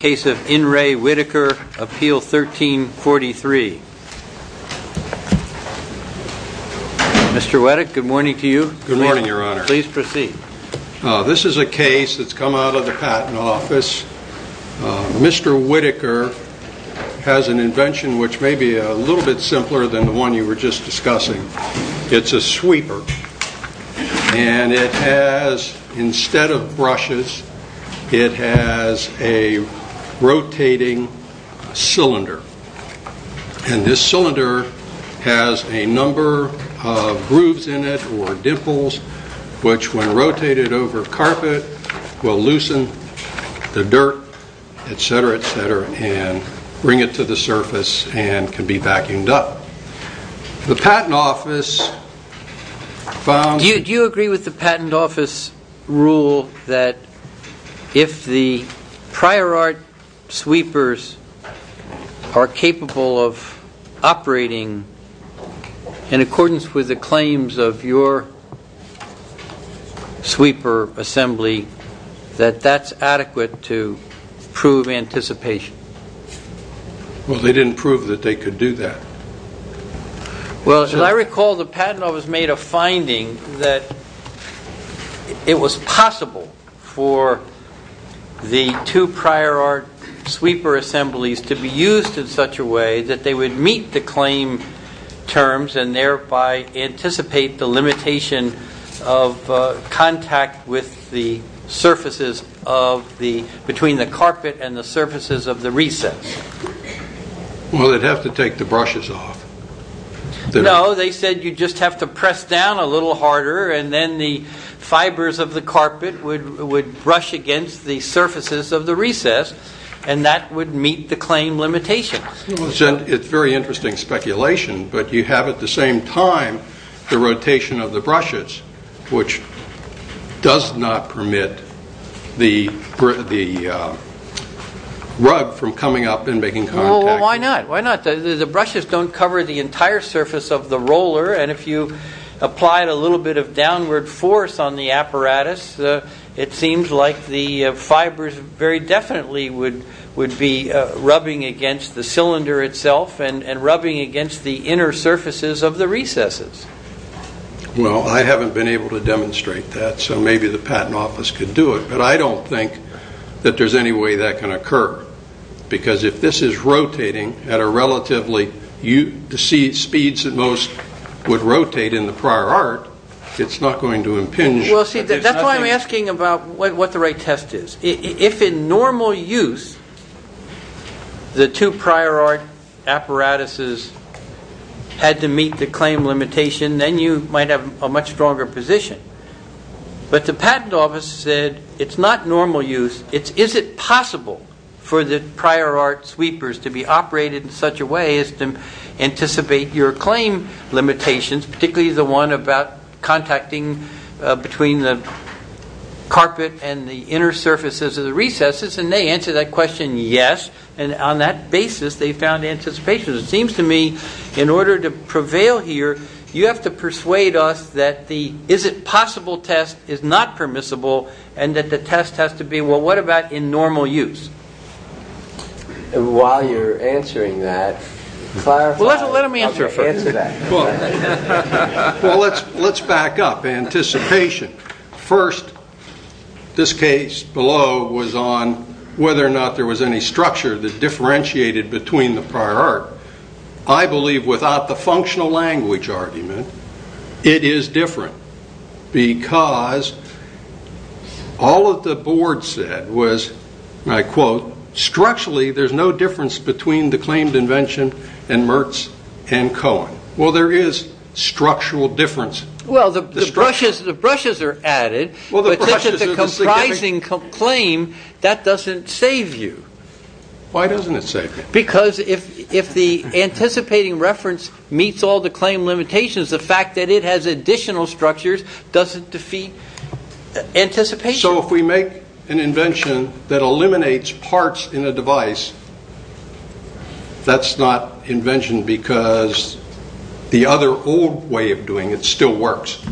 Case of In Re Whittaker, Appeal 1343. Mr. Whittaker, good morning to you. Good morning, Your Honor. Please proceed. This is a case that's come out of the Patent Office. Mr. Whittaker has an invention which may be a little bit simpler than the one you were just discussing. It's a sweeper. And it has, instead of brushes, it has a rotating cylinder. And this cylinder has a number of grooves in it, or dimples, which when rotated over carpet will loosen the dirt, etc., etc., and bring it to the surface and can be vacuumed up. The Patent Office found... Do you agree with the Patent Office rule that if the prior art sweepers are capable of operating in accordance with the claims of your sweeper assembly, that that's adequate to prove anticipation? Well, they didn't prove that they could do that. Well, as I recall, the Patent Office made a finding that it was possible for the two prior art sweeper assemblies to be used in such a way that they would meet the claim terms and thereby anticipate the limitation of contact with the surfaces between the carpet and the surfaces of the recess. Well, they'd have to take the brushes off. No, they said you'd just have to press down a little harder and then the fibers of the carpet would brush against the surfaces of the recess and that would meet the claim limitations. It's very interesting speculation, but you have at the same time the rotation of the brushes, which does not permit the rug from coming up and making contact. Well, why not? The brushes don't cover the entire surface of the roller and if you applied a little bit of downward force on the apparatus, it seems like the fibers very definitely would be rubbing against the cylinder itself and rubbing against the inner surfaces of the recesses. Well, I haven't been able to demonstrate that, so maybe the Patent Office could do it, but I don't think that there's any way that can occur because if this is rotating at a relatively speed that most would rotate in the prior art, it's not going to impinge. Well, see, that's why I'm asking about what the right test is. If in normal use the two prior art apparatuses had to meet the claim limitation, then you might have a much stronger position, but the Patent Office said it's not normal use. Is it possible for the prior art sweepers to be operated in such a way as to anticipate your claim limitations, particularly the one about contacting between the carpet and the inner surfaces of the recesses? And they answered that question, yes, and on that basis they found anticipation. It seems to me in order to prevail here, you have to persuade us that the is it possible test is not permissible and that the test has to be, well, what about in normal use? While you're answering that, clarify... Well, let him answer that. Well, let's back up. Anticipation. First, this case below was on whether or not there was any structure that differentiated between the prior art. I believe without the functional language argument, it is different because all of the board said was, and I quote, structurally there's no difference between the claimed invention and Mertz and Cohen. Well, there is structural difference. Well, the brushes are added, but since it's a comprising claim, that doesn't save you. Why doesn't it save you? Because if the anticipating reference meets all the claim limitations, the fact that it has additional structures doesn't defeat anticipation. So if we make an invention that eliminates parts in a device, that's not invention because the other old way of doing it still works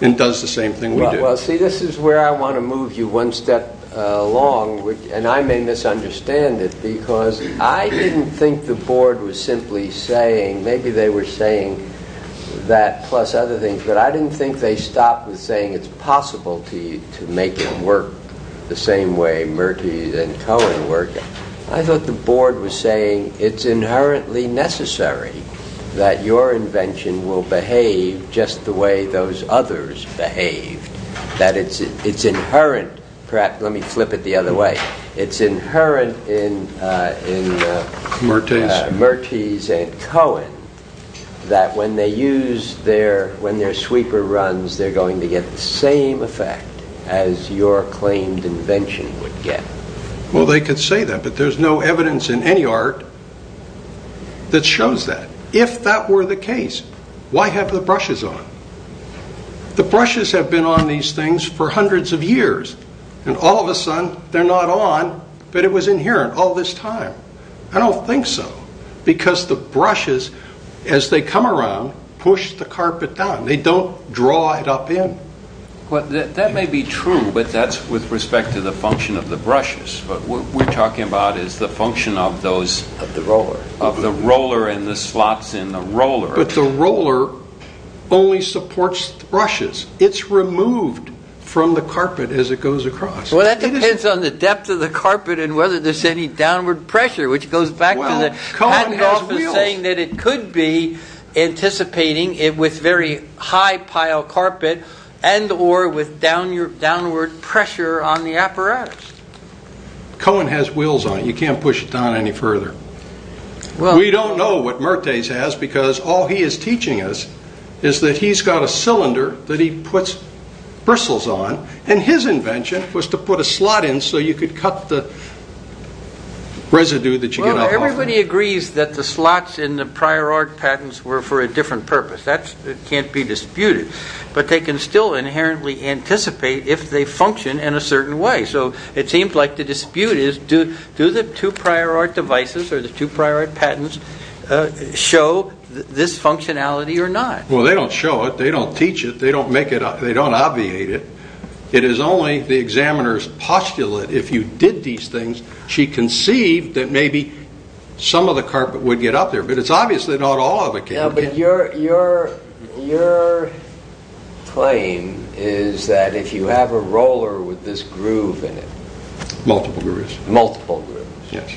and does the same thing we do. Well, see, this is where I want to move you one step along, and I may misunderstand it because I didn't think the board was simply saying, maybe they were saying that plus other things, but I didn't think they stopped with saying it's possible to make it work the same way Mertz and Cohen work. I thought the board was saying it's inherently necessary that your invention will behave just the way those others behave, that it's inherent, perhaps let me flip it the other way, it's inherent in Mertz and Cohen that when their sweeper runs, they're going to get the same effect as your claimed invention would get. Well, they could say that, but there's no evidence in any art that shows that. If that were the case, why have the brushes on? The brushes have been on these things for hundreds of years, and all of a sudden they're not on, but it was inherent all this time. I don't think so, because the brushes, as they come around, push the carpet down. They don't draw it up in. That may be true, but that's with respect to the function of the brushes. What we're talking about is the function of the roller and the slots in the roller. But the roller only supports brushes. It's removed from the carpet as it goes across. Well, that depends on the depth of the carpet and whether there's any downward pressure, which goes back to the patent office saying that it could be anticipating it with very high pile carpet and or with downward pressure on the apparatus. Cohen has wheels on it. You can't push it down any further. We don't know what Mertz has, because all he is teaching us is that he's got a cylinder that he puts bristles on, and his invention was to put a slot in so you could cut the residue that you get off of it. Everybody agrees that the slots in the prior art patents were for a different purpose. That can't be disputed, but they can still inherently anticipate if they function in a certain way. It seems like the dispute is, do the two prior art devices or the two prior art patents show this functionality or not? Well, they don't show it. They don't teach it. They don't make it up. They don't obviate it. It is only the examiner's postulate, if you did these things, she conceived that maybe some of the carpet would get up there, but it's obviously not all of it can get up there. But your claim is that if you have a roller with this groove in it... Multiple grooves. Multiple grooves. Yes.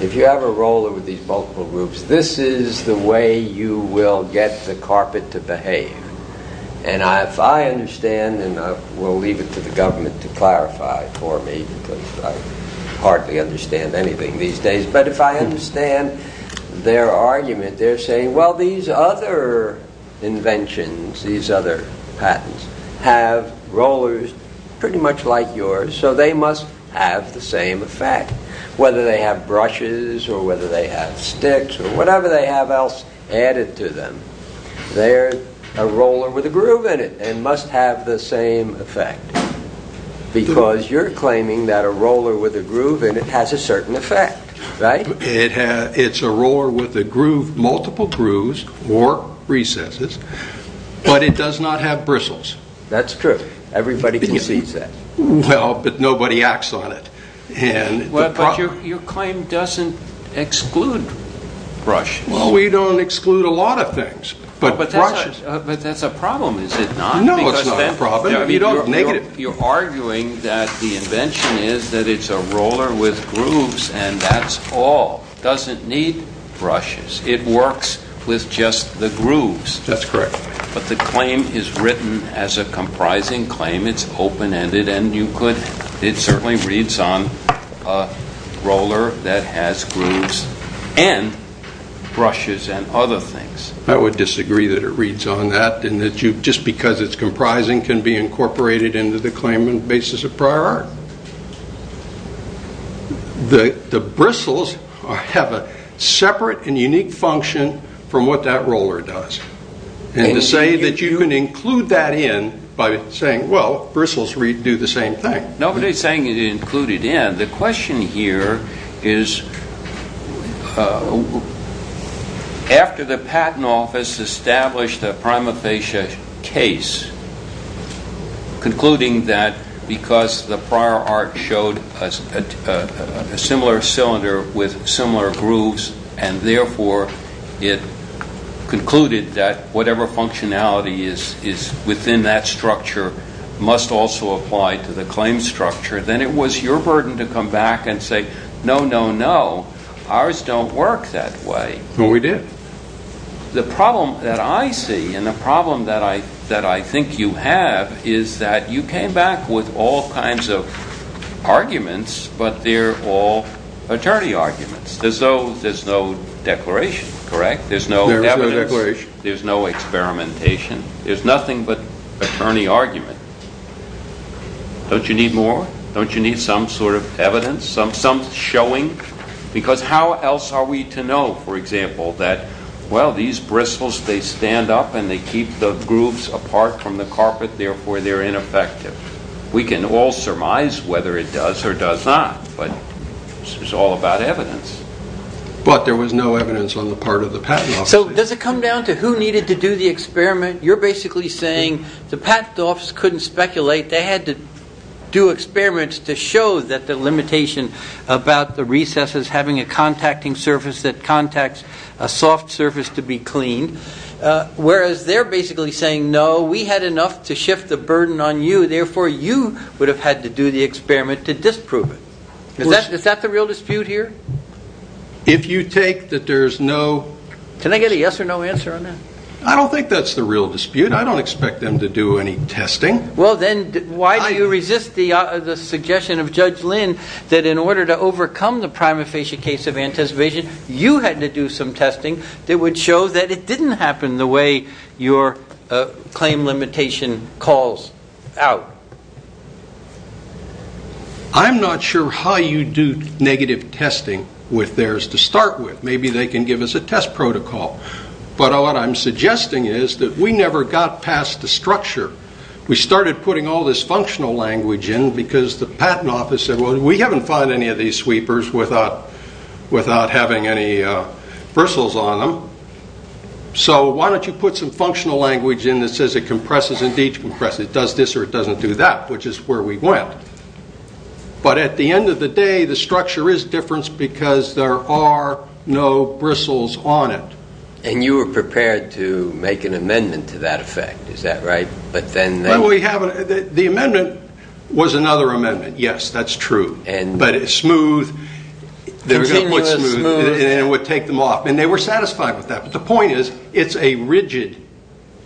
If you have a roller with these multiple grooves, this is the way you will get the carpet to behave. If I understand, and we'll leave it to the government to clarify for me, because I hardly understand anything these days, but if I understand their argument, they're saying, well, these other inventions, these other patents, have rollers pretty much like yours, so they must have the same effect. Whether they have brushes or whether they have sticks or whatever they have else added to them, they're a roller with a groove in it and must have the same effect, because you're claiming that a roller with a groove in it has a certain effect, right? It's a roller with a groove, multiple grooves or recesses, but it does not have bristles. That's true. Everybody concedes that. Well, but nobody acts on it. But your claim doesn't exclude brushes. We don't exclude a lot of things, but brushes... But that's a problem, is it not? No, it's not a problem. You're arguing that the invention is that it's a roller with grooves and that's all. It doesn't need brushes. It works with just the grooves. That's correct. But the claim is written as a comprising claim. It's open-ended and you could... It certainly reads on a roller that has grooves and brushes and other things. I would disagree that it reads on that and that just because it's comprising can be incorporated into the claimant basis of prior art. The bristles have a separate and unique function from what that roller does. And to say that you can include that in by saying, well, bristles do the same thing. Nobody's saying you can include it in. The question here is, after the Patent Office established a prima facie case concluding that because the prior art showed a similar cylinder with similar grooves and therefore it concluded that whatever functionality is within that structure must also apply to the claim structure, then it was your burden to come back and say, no, no, no. Ours don't work that way. No, we did. The problem that I see and the problem that I think you have is that you came back with all kinds of arguments, but they're all attorney arguments. There's no declaration, correct? There's no evidence. There's no declaration. There's no experimentation. There's nothing but attorney argument. Don't you need more? Don't you need some sort of evidence, some showing? Because how else are we to know, for example, that, well, these bristles, they stand up and they keep the grooves apart from the carpet, therefore they're ineffective. We can all surmise whether it does or does not, but this is all about evidence. But there was no evidence on the part of the Patent Office. So does it come down to who needed to do the experiment? You're basically saying the Patent Office couldn't speculate. They had to do experiments to show that the limitation about the recesses having a contacting surface that contacts a soft surface to be cleaned, whereas they're basically saying, no, we had enough to shift the burden on you. Therefore, you would have had to do the experiment to disprove it. Is that the real dispute here? If you take that there's no... Can I get a yes or no answer on that? I don't think that's the real dispute. I don't expect them to do any testing. Well, then why do you resist the suggestion of Judge Lynn that in order to overcome the prima facie case of anticipation, you had to do some testing that would show that it didn't happen the way your claim limitation calls out? I'm not sure how you do negative testing with theirs to start with. Maybe they can give us a test protocol. But what I'm suggesting is that we never got past the structure. We started putting all this functional language in because the Patent Office said, we haven't found any of these sweepers without having any bristles on them. So why don't you put some functional language in that says it compresses and decompresses. It does this or it doesn't do that, which is where we went. But at the end of the day, the structure is different because there are no bristles on it. And you were prepared to make an amendment to that effect, is that right? The amendment was another amendment. Yes, that's true. But it's smooth. Continuous smooth. And it would take them off. And they were satisfied with that. But the point is, it's a rigid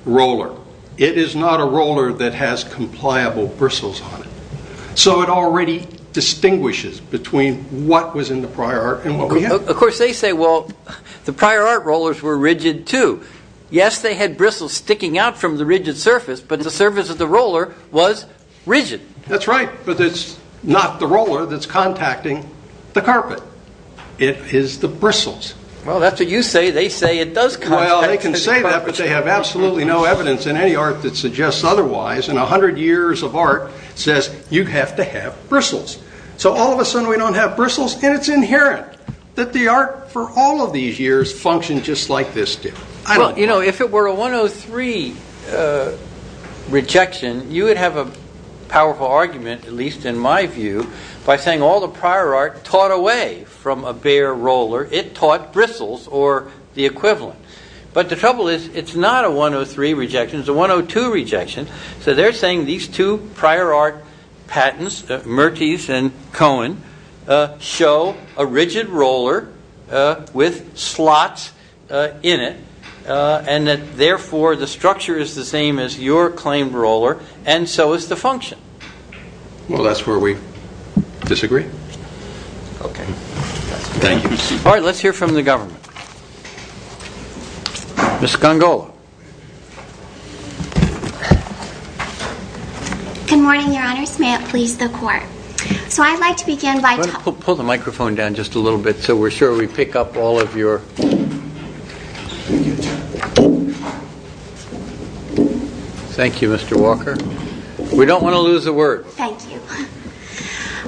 roller. It is not a roller that has compliable bristles on it. So it already distinguishes between what was in the prior art and what we have. Of course, they say, well, the prior art rollers were rigid too. Yes, they had bristles sticking out from the rigid surface. But the surface of the roller was rigid. That's right. But it's not the roller that's contacting the carpet. It is the bristles. Well, that's what you say. They say it does contact. Well, they can say that, but they have absolutely no evidence in any art that suggests otherwise. And 100 years of art says you have to have bristles. So all of a sudden, we don't have bristles. And it's inherent that the art for all of these years functioned just like this did. You know, if it were a 103 rejection, you would have a powerful argument, at least in my view, by saying all the prior art taught away from a bare roller. It taught bristles or the equivalent. But the trouble is, it's not a 103 rejection. It's a 102 rejection. So they're saying these two prior art patents, Mertes and Cohen, show a rigid roller with slots in it, and that, therefore, the structure is the same as your claimed roller, and so is the function. Well, that's where we disagree. Okay. Thank you. All right, let's hear from the government. Ms. Gongola. Good morning, Your Honors. May it please the Court. So I'd like to begin by talking about the functional limitations. Pull the microphone down just a little bit so we're sure we pick up all of your... Thank you, Mr. Walker. We don't want to lose the word. Thank you.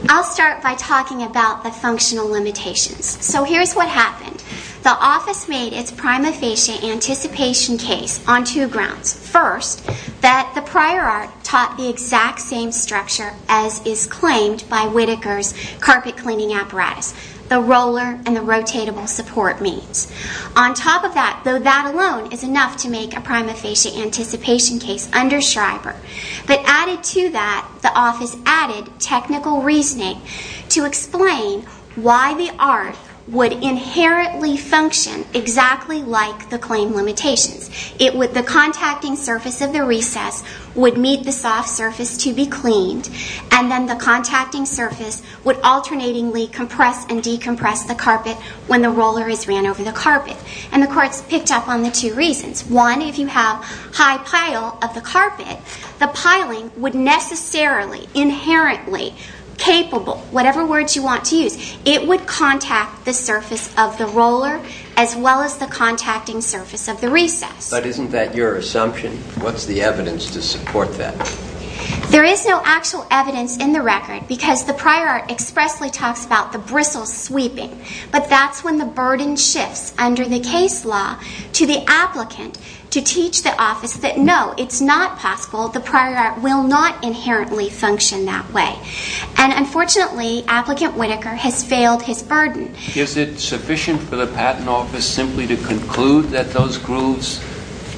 I'll start by talking about the functional limitations. So here's what happened. The office made its prima facie anticipation case on two grounds. First, that the prior art taught the exact same structure as is claimed by Whitaker's carpet cleaning apparatus, the roller and the rotatable support means. On top of that, though, that alone is enough to make a prima facie anticipation case under Schreiber. But added to that, the office added technical reasoning to explain why the art would inherently function exactly like the claim limitations. The contacting surface of the recess would meet the soft surface to be cleaned, and then the contacting surface would alternatingly compress and decompress the carpet when the roller is ran over the carpet. And the Court's picked up on the two reasons. One, if you have high pile of the carpet, the piling would necessarily, inherently, capable, whatever words you want to use, it would contact the surface of the roller as well as the contacting surface of the recess. But isn't that your assumption? What's the evidence to support that? There is no actual evidence in the record because the prior art expressly talks about the bristle sweeping. But that's when the burden shifts under the case law to the applicant to teach the office that no, it's not possible. The prior art will not inherently function that way. And unfortunately, applicant Whitaker has failed his burden. Is it sufficient for the Patent Office simply to conclude that those grooves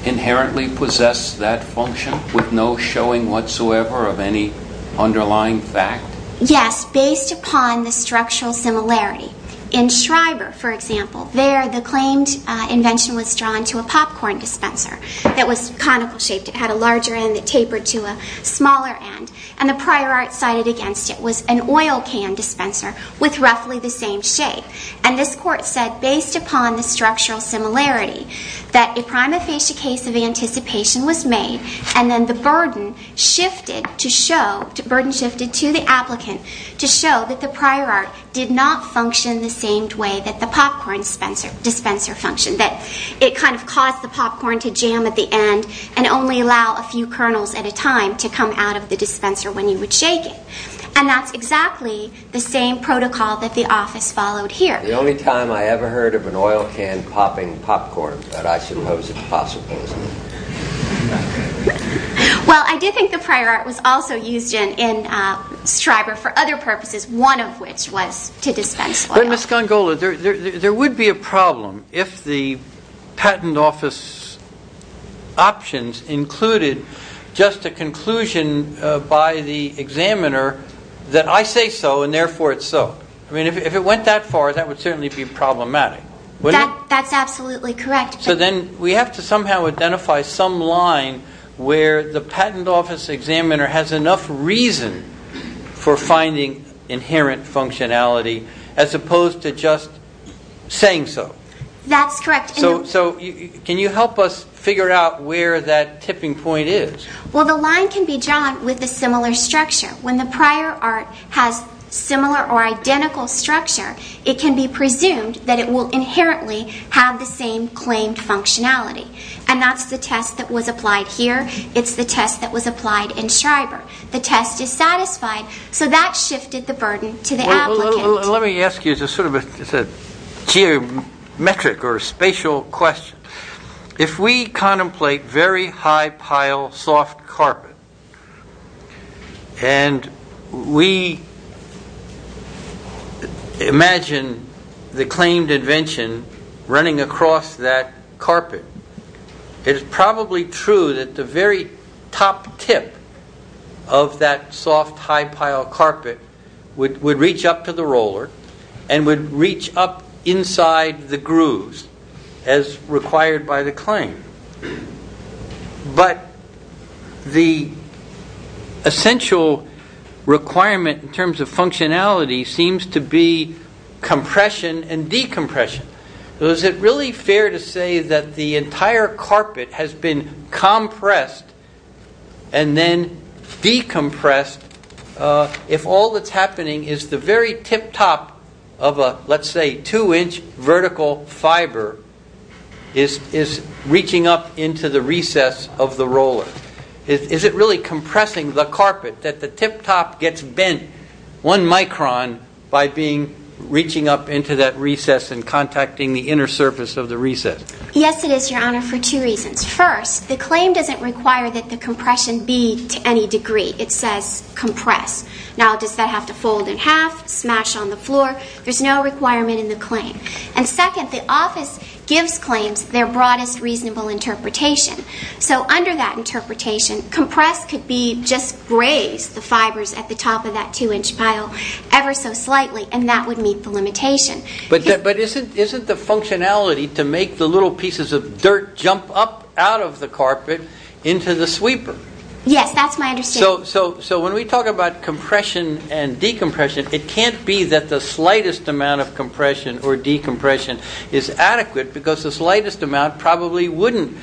inherently possess that function with no showing whatsoever of any underlying fact? Yes, based upon the structural similarity. In Schreiber, for example, there the claimed invention was drawn to a popcorn dispenser that was conical shaped. It had a larger end that tapered to a smaller end. And the prior art cited against it was an oil can dispenser with roughly the same shape. And this Court said, based upon the structural similarity, that a prima facie case of anticipation was made And then the burden shifted to show, the burden shifted to the applicant to show that the prior art did not function the same way that the popcorn dispenser functioned. That it kind of caused the popcorn to jam at the end and only allow a few kernels at a time to come out of the dispenser when you would shake it. And that's exactly the same protocol that the office followed here. The only time I ever heard of an oil can popping popcorn that I suppose is possible. Well, I do think the prior art was also used in Schreiber for other purposes, one of which was to dispense oil. But Ms. Gongola, there would be a problem if the Patent Office options included just a conclusion by the examiner that I say so and therefore it's so. I mean, if it went that far, that would certainly be problematic. That's absolutely correct. So then we have to somehow identify some line where the Patent Office examiner has enough reason for finding inherent functionality as opposed to just saying so. That's correct. So can you help us figure out where that tipping point is? Well, the line can be drawn with a similar structure. When the prior art has similar or identical structure, it can be presumed that it will inherently have the same claimed functionality. And that's the test that was applied here. It's the test that was applied in Schreiber. The test is satisfied. So that shifted the burden to the applicant. Let me ask you sort of a geometric or spatial question. If we contemplate very high pile soft carpet and we imagine the claimed invention running across that carpet, it is probably true that the very top tip of that soft high pile carpet would reach up to the roller and would reach up inside the grooves as required by the claim. But the essential requirement in terms of functionality seems to be compression and decompression. So is it really fair to say that the entire carpet has been compressed and then decompressed if all that's happening is the very tip top of a, let's say, two-inch vertical fiber is reaching up into the recess of the roller? Is it really compressing the carpet that the tip top gets bent one micron by reaching up into that recess and contacting the inner surface of the recess? Yes, it is, Your Honor, for two reasons. First, the claim doesn't require that the compression be to any degree. It says compress. Now, does that have to fold in half, smash on the floor? There's no requirement in the claim. And second, the office gives claims their broadest reasonable interpretation. So under that interpretation, compress could be just grazed, the fibers at the top of that two-inch pile, ever so slightly, and that would meet the limitation. But isn't the functionality to make the little pieces of dirt jump up out of the carpet into the sweeper? Yes, that's my understanding. So when we talk about compression and decompression, it can't be that the slightest amount of compression or decompression is adequate because the slightest amount probably wouldn't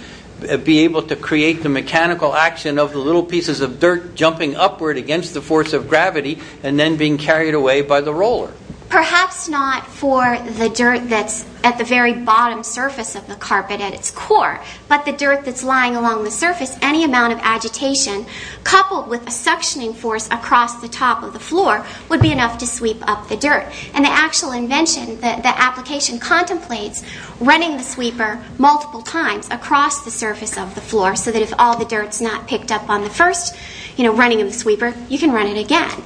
be able to create the mechanical action of the little pieces of dirt jumping upward against the force of gravity and then being carried away by the roller. Perhaps not for the dirt that's at the very bottom surface of the carpet at its core, but the dirt that's lying along the surface, any amount of agitation coupled with a suctioning force across the top of the floor would be enough to sweep up the dirt. And the actual invention, the application contemplates running the sweeper multiple times across the surface of the floor so that if all the dirt's not picked up on the first running of the sweeper, you can run it again.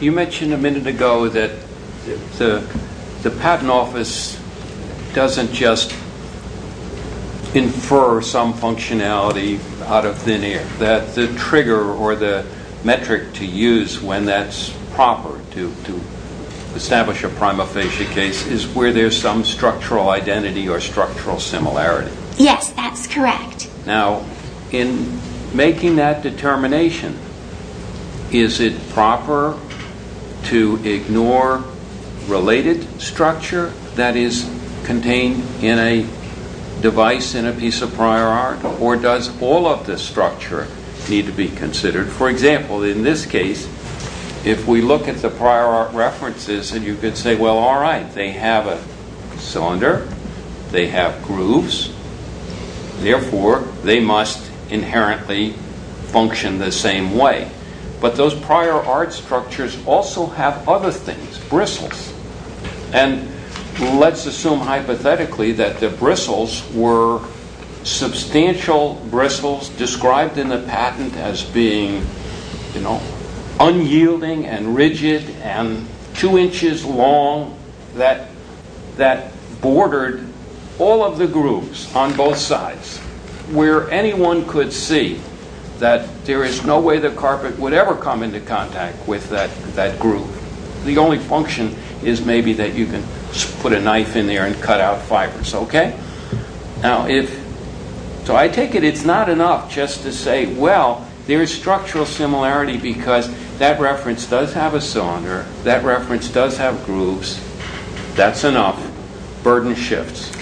You mentioned a minute ago that the patent office doesn't just infer some functionality out of thin air, that the trigger or the metric to use when that's proper to establish a prima facie case is where there's some structural identity or structural similarity. Yes, that's correct. Now, in making that determination, is it proper to ignore related structure that is contained in a device in a piece of prior art, or does all of the structure need to be considered? For example, in this case, if we look at the prior art references, you could say, well, all right, they have a cylinder, they have grooves, therefore, they must inherently function the same way. But those prior art structures also have other things, bristles. And let's assume hypothetically that the bristles were substantial bristles described in the patent as being unyielding and rigid and two inches long that bordered all of the grooves on both sides, where anyone could see that there is no way the carpet would ever come into contact with that groove. The only function is maybe that you can put a knife in there and cut out fibers, okay? So I take it it's not enough just to say, well, there's structural similarity because that reference does have a cylinder, that reference does have grooves. That's enough. Burden shifts.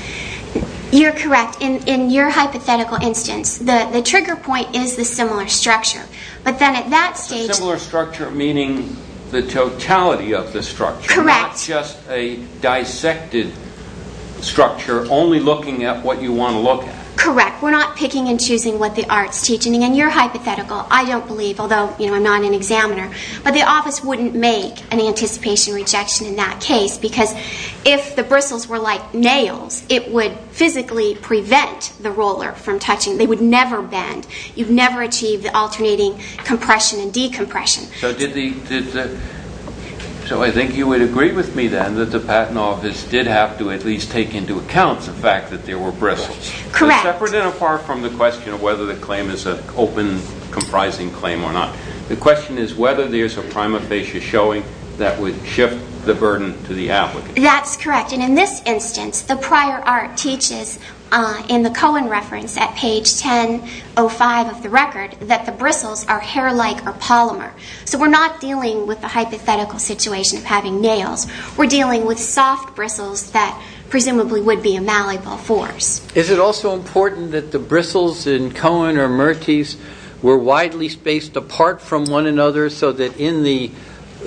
You're correct. In your hypothetical instance, the trigger point is the similar structure. The similar structure meaning the totality of the structure. Correct. Not just a dissected structure, only looking at what you want to look at. Correct. We're not picking and choosing what the art's teaching. In your hypothetical, I don't believe, although I'm not an examiner, but the office wouldn't make an anticipation rejection in that case because if the bristles were like nails, it would physically prevent the roller from touching. They would never bend. You'd never achieve the alternating compression and decompression. So I think you would agree with me then that the Patent Office did have to at least take into account the fact that there were bristles. Correct. Separate and apart from the question of whether the claim is an open, comprising claim or not, the question is whether there's a prima facie showing that would shift the burden to the applicant. That's correct. And in this instance, the prior art teaches in the Cohen reference at page 1005 of the record that the bristles are hair-like or polymer. So we're not dealing with the hypothetical situation of having nails. We're dealing with soft bristles that presumably would be a malleable force. Is it also important that the bristles in Cohen or Mertes were widely spaced apart from one another so that in the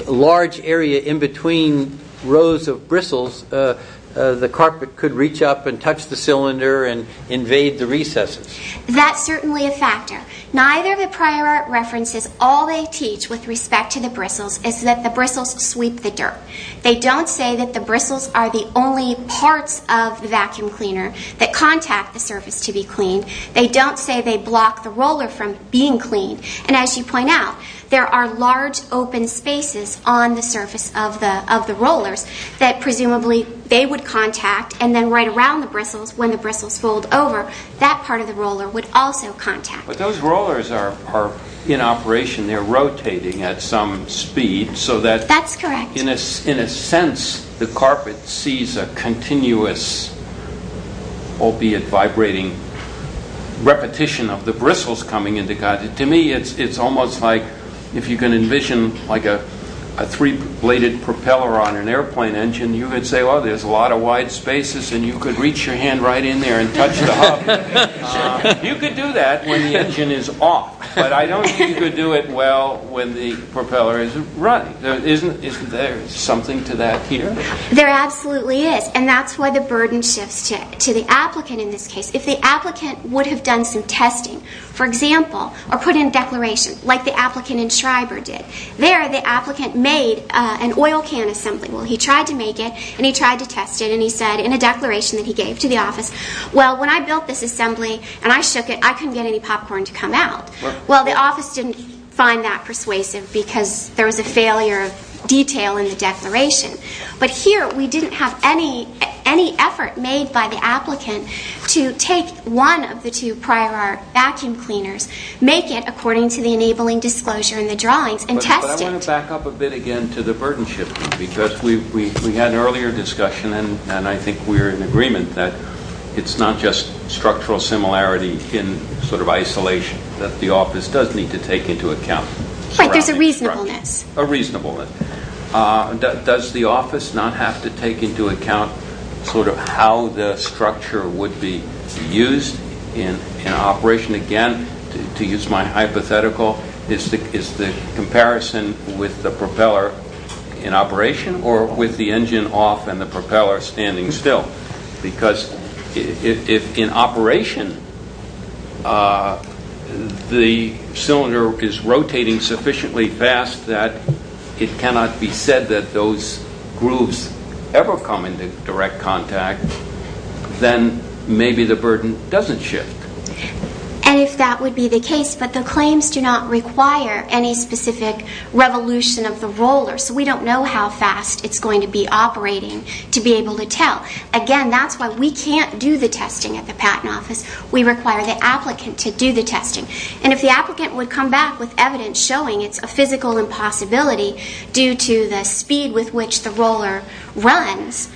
large area in between rows of bristles, the carpet could reach up and touch the cylinder and invade the recesses? That's certainly a factor. Neither of the prior art references, all they teach with respect to the bristles, is that the bristles sweep the dirt. They don't say that the bristles are the only parts of the vacuum cleaner that contact the surface to be cleaned. They don't say they block the roller from being cleaned. And as you point out, there are large open spaces on the surface of the rollers that presumably they would contact and then right around the bristles, when the bristles fold over, that part of the roller would also contact. But those rollers are in operation. They're rotating at some speed so that in a sense the carpet sees a continuous, albeit vibrating, repetition of the bristles coming into contact. To me, it's almost like if you can envision a three-bladed propeller on an airplane engine, and you could say, oh, there's a lot of wide spaces, and you could reach your hand right in there and touch the hub. You could do that when the engine is off. But I don't think you could do it well when the propeller is running. Isn't there something to that here? There absolutely is. And that's why the burden shifts to the applicant in this case. If the applicant would have done some testing, for example, or put in a declaration, like the applicant in Schreiber did, there the applicant made an oil can assembly. Well, he tried to make it, and he tried to test it, and he said in a declaration that he gave to the office, well, when I built this assembly and I shook it, I couldn't get any popcorn to come out. Well, the office didn't find that persuasive because there was a failure of detail in the declaration. But here we didn't have any effort made by the applicant to take one of the two prior art vacuum cleaners, make it according to the enabling disclosure in the drawings, and test it. But I want to back up a bit again to the burden shift, because we had an earlier discussion, and I think we're in agreement that it's not just structural similarity in sort of isolation that the office does need to take into account. Right, there's a reasonableness. A reasonableness. Does the office not have to take into account sort of how the structure would be used in operation? Again, to use my hypothetical, is the comparison with the propeller in operation, or with the engine off and the propeller standing still? Because if in operation the cylinder is rotating sufficiently fast that it cannot be said that those grooves ever come into direct contact, then maybe the burden doesn't shift. And if that would be the case, but the claims do not require any specific revolution of the roller, so we don't know how fast it's going to be operating to be able to tell. Again, that's why we can't do the testing at the patent office. We require the applicant to do the testing. And if the applicant would come back with evidence showing it's a physical impossibility due to the speed with which the roller runs,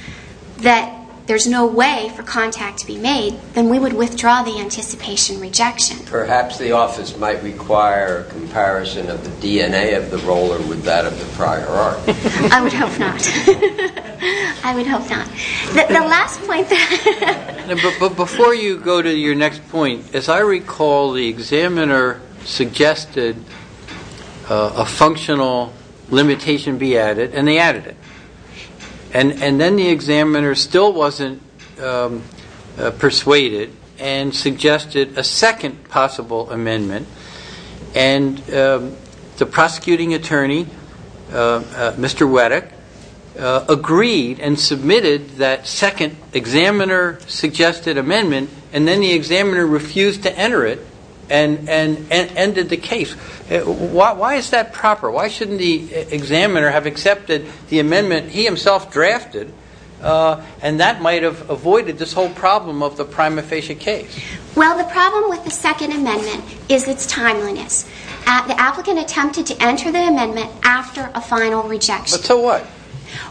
that there's no way for contact to be made, then we would withdraw the anticipation rejection. Perhaps the office might require a comparison of the DNA of the roller with that of the prior art. I would hope not. I would hope not. The last point that... But before you go to your next point, as I recall, the examiner suggested a functional limitation be added, and they added it. And then the examiner still wasn't persuaded and suggested a second possible amendment. And the prosecuting attorney, Mr. Wettig, agreed and submitted that second examiner-suggested amendment, and then the examiner refused to enter it and ended the case. Why is that proper? Why shouldn't the examiner have accepted the amendment he himself drafted, and that might have avoided this whole problem of the prima facie case? Well, the problem with the second amendment is its timeliness. The applicant attempted to enter the amendment after a final rejection. But so what?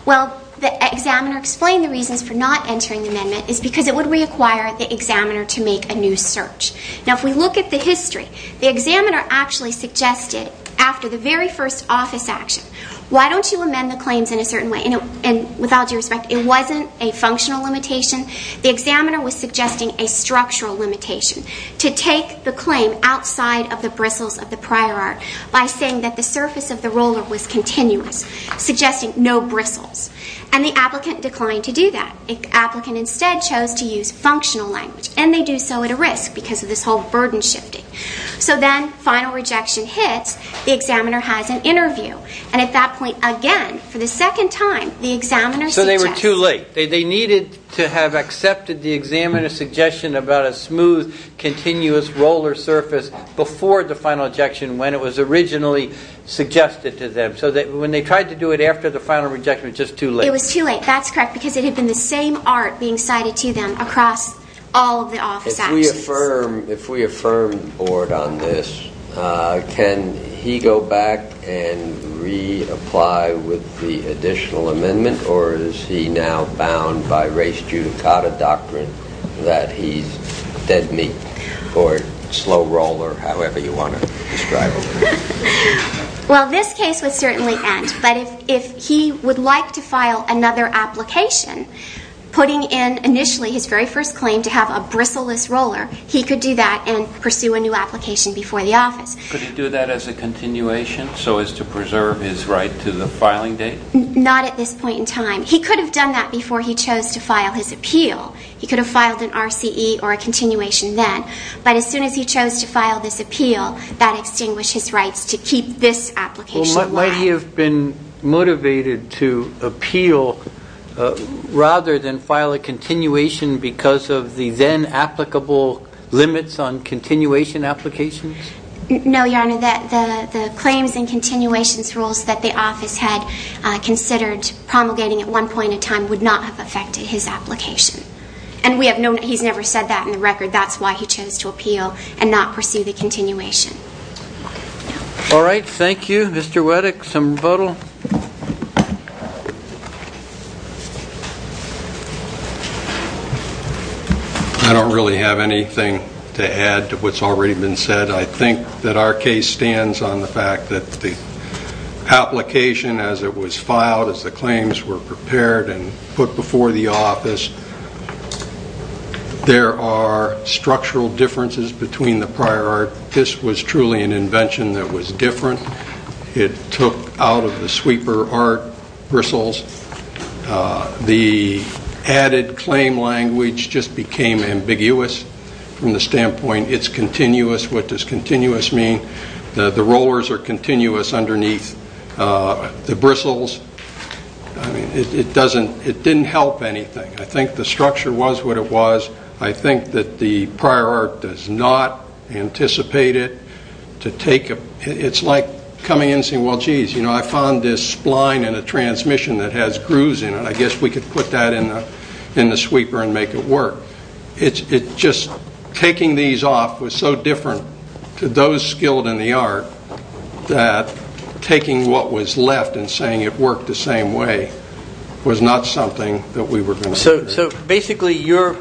Well, the examiner explained the reasons for not entering the amendment is because it would require the examiner to make a new search. Now, if we look at the history, the examiner actually suggested after the very first office action, why don't you amend the claims in a certain way? And with all due respect, it wasn't a functional limitation. The examiner was suggesting a structural limitation to take the claim outside of the bristles of the prior art by saying that the surface of the roller was continuous, suggesting no bristles. And the applicant declined to do that. The applicant instead chose to use functional language. And they do so at a risk because of this whole burden shifting. So then final rejection hits. The examiner has an interview. And at that point, again, for the second time, the examiner suggests. So they were too late. They needed to have accepted the examiner's suggestion about a smooth, continuous roller surface before the final rejection when it was originally suggested to them. So when they tried to do it after the final rejection, it was just too late. It was too late. That's correct because it had been the same art being cited to them across all of the office actions. If we affirm the Board on this, can he go back and reapply with the additional amendment or is he now bound by race judicata doctrine that he's dead meat or slow roller, however you want to describe it? Well, this case would certainly end. But if he would like to file another application, putting in initially his very first claim to have a bristle-less roller, he could do that and pursue a new application before the office. Could he do that as a continuation so as to preserve his right to the filing date? Not at this point in time. He could have done that before he chose to file his appeal. He could have filed an RCE or a continuation then. But as soon as he chose to file this appeal, that extinguished his rights to keep this application. Well, might he have been motivated to appeal rather than file a continuation because of the then applicable limits on continuation applications? No, Your Honor. The claims and continuations rules that the office had considered promulgating at one point in time would not have affected his application. And he's never said that in the record. That's why he chose to appeal and not pursue the continuation. All right, thank you. Mr. Weddick, some rebuttal? I don't really have anything to add to what's already been said. I think that our case stands on the fact that the application, as it was filed, as the claims were prepared and put before the office, there are structural differences between the prior art. This was truly an invention that was different. It took out of the sweeper art bristles. The added claim language just became ambiguous from the standpoint, it's continuous, what does continuous mean? The rollers are continuous underneath the bristles. It didn't help anything. I think the structure was what it was. I think that the prior art does not anticipate it. It's like coming in and saying, well, geez, I found this spline in a transmission that has grooves in it. I guess we could put that in the sweeper and make it work. Just taking these off was so different to those skilled in the art that taking what was left and saying it worked the same way was not something that we were going to do. So basically you're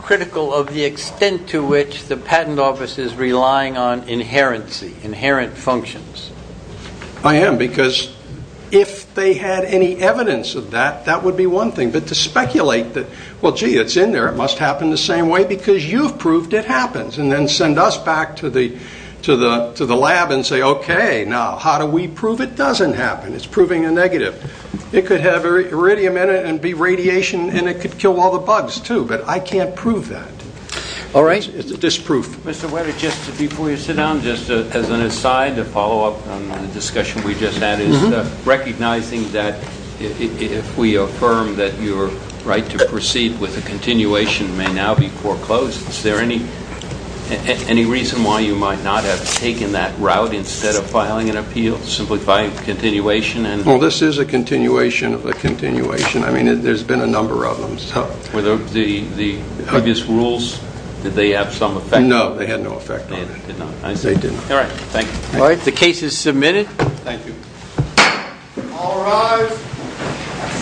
critical of the extent to which the patent office is relying on inherency, inherent functions. I am, because if they had any evidence of that, that would be one thing. But to speculate that, well, gee, it's in there, it must happen the same way, because you've proved it happens, and then send us back to the lab and say, okay, now how do we prove it doesn't happen? It's proving a negative. It could have iridium in it and be radiation, and it could kill all the bugs, too, but I can't prove that. It's disproof. Mr. Webber, just before you sit down, just as an aside, a follow-up on the discussion we just had, is recognizing that if we affirm that your right to proceed with a continuation may now be foreclosed, is there any reason why you might not have taken that route instead of filing an appeal, simplifying the continuation? Well, this is a continuation of a continuation. I mean, there's been a number of them. Were the previous rules, did they have some effect? No, they had no effect on it. They did not? They did not. All right, thank you. All right, the case is submitted. Thank you. All rise.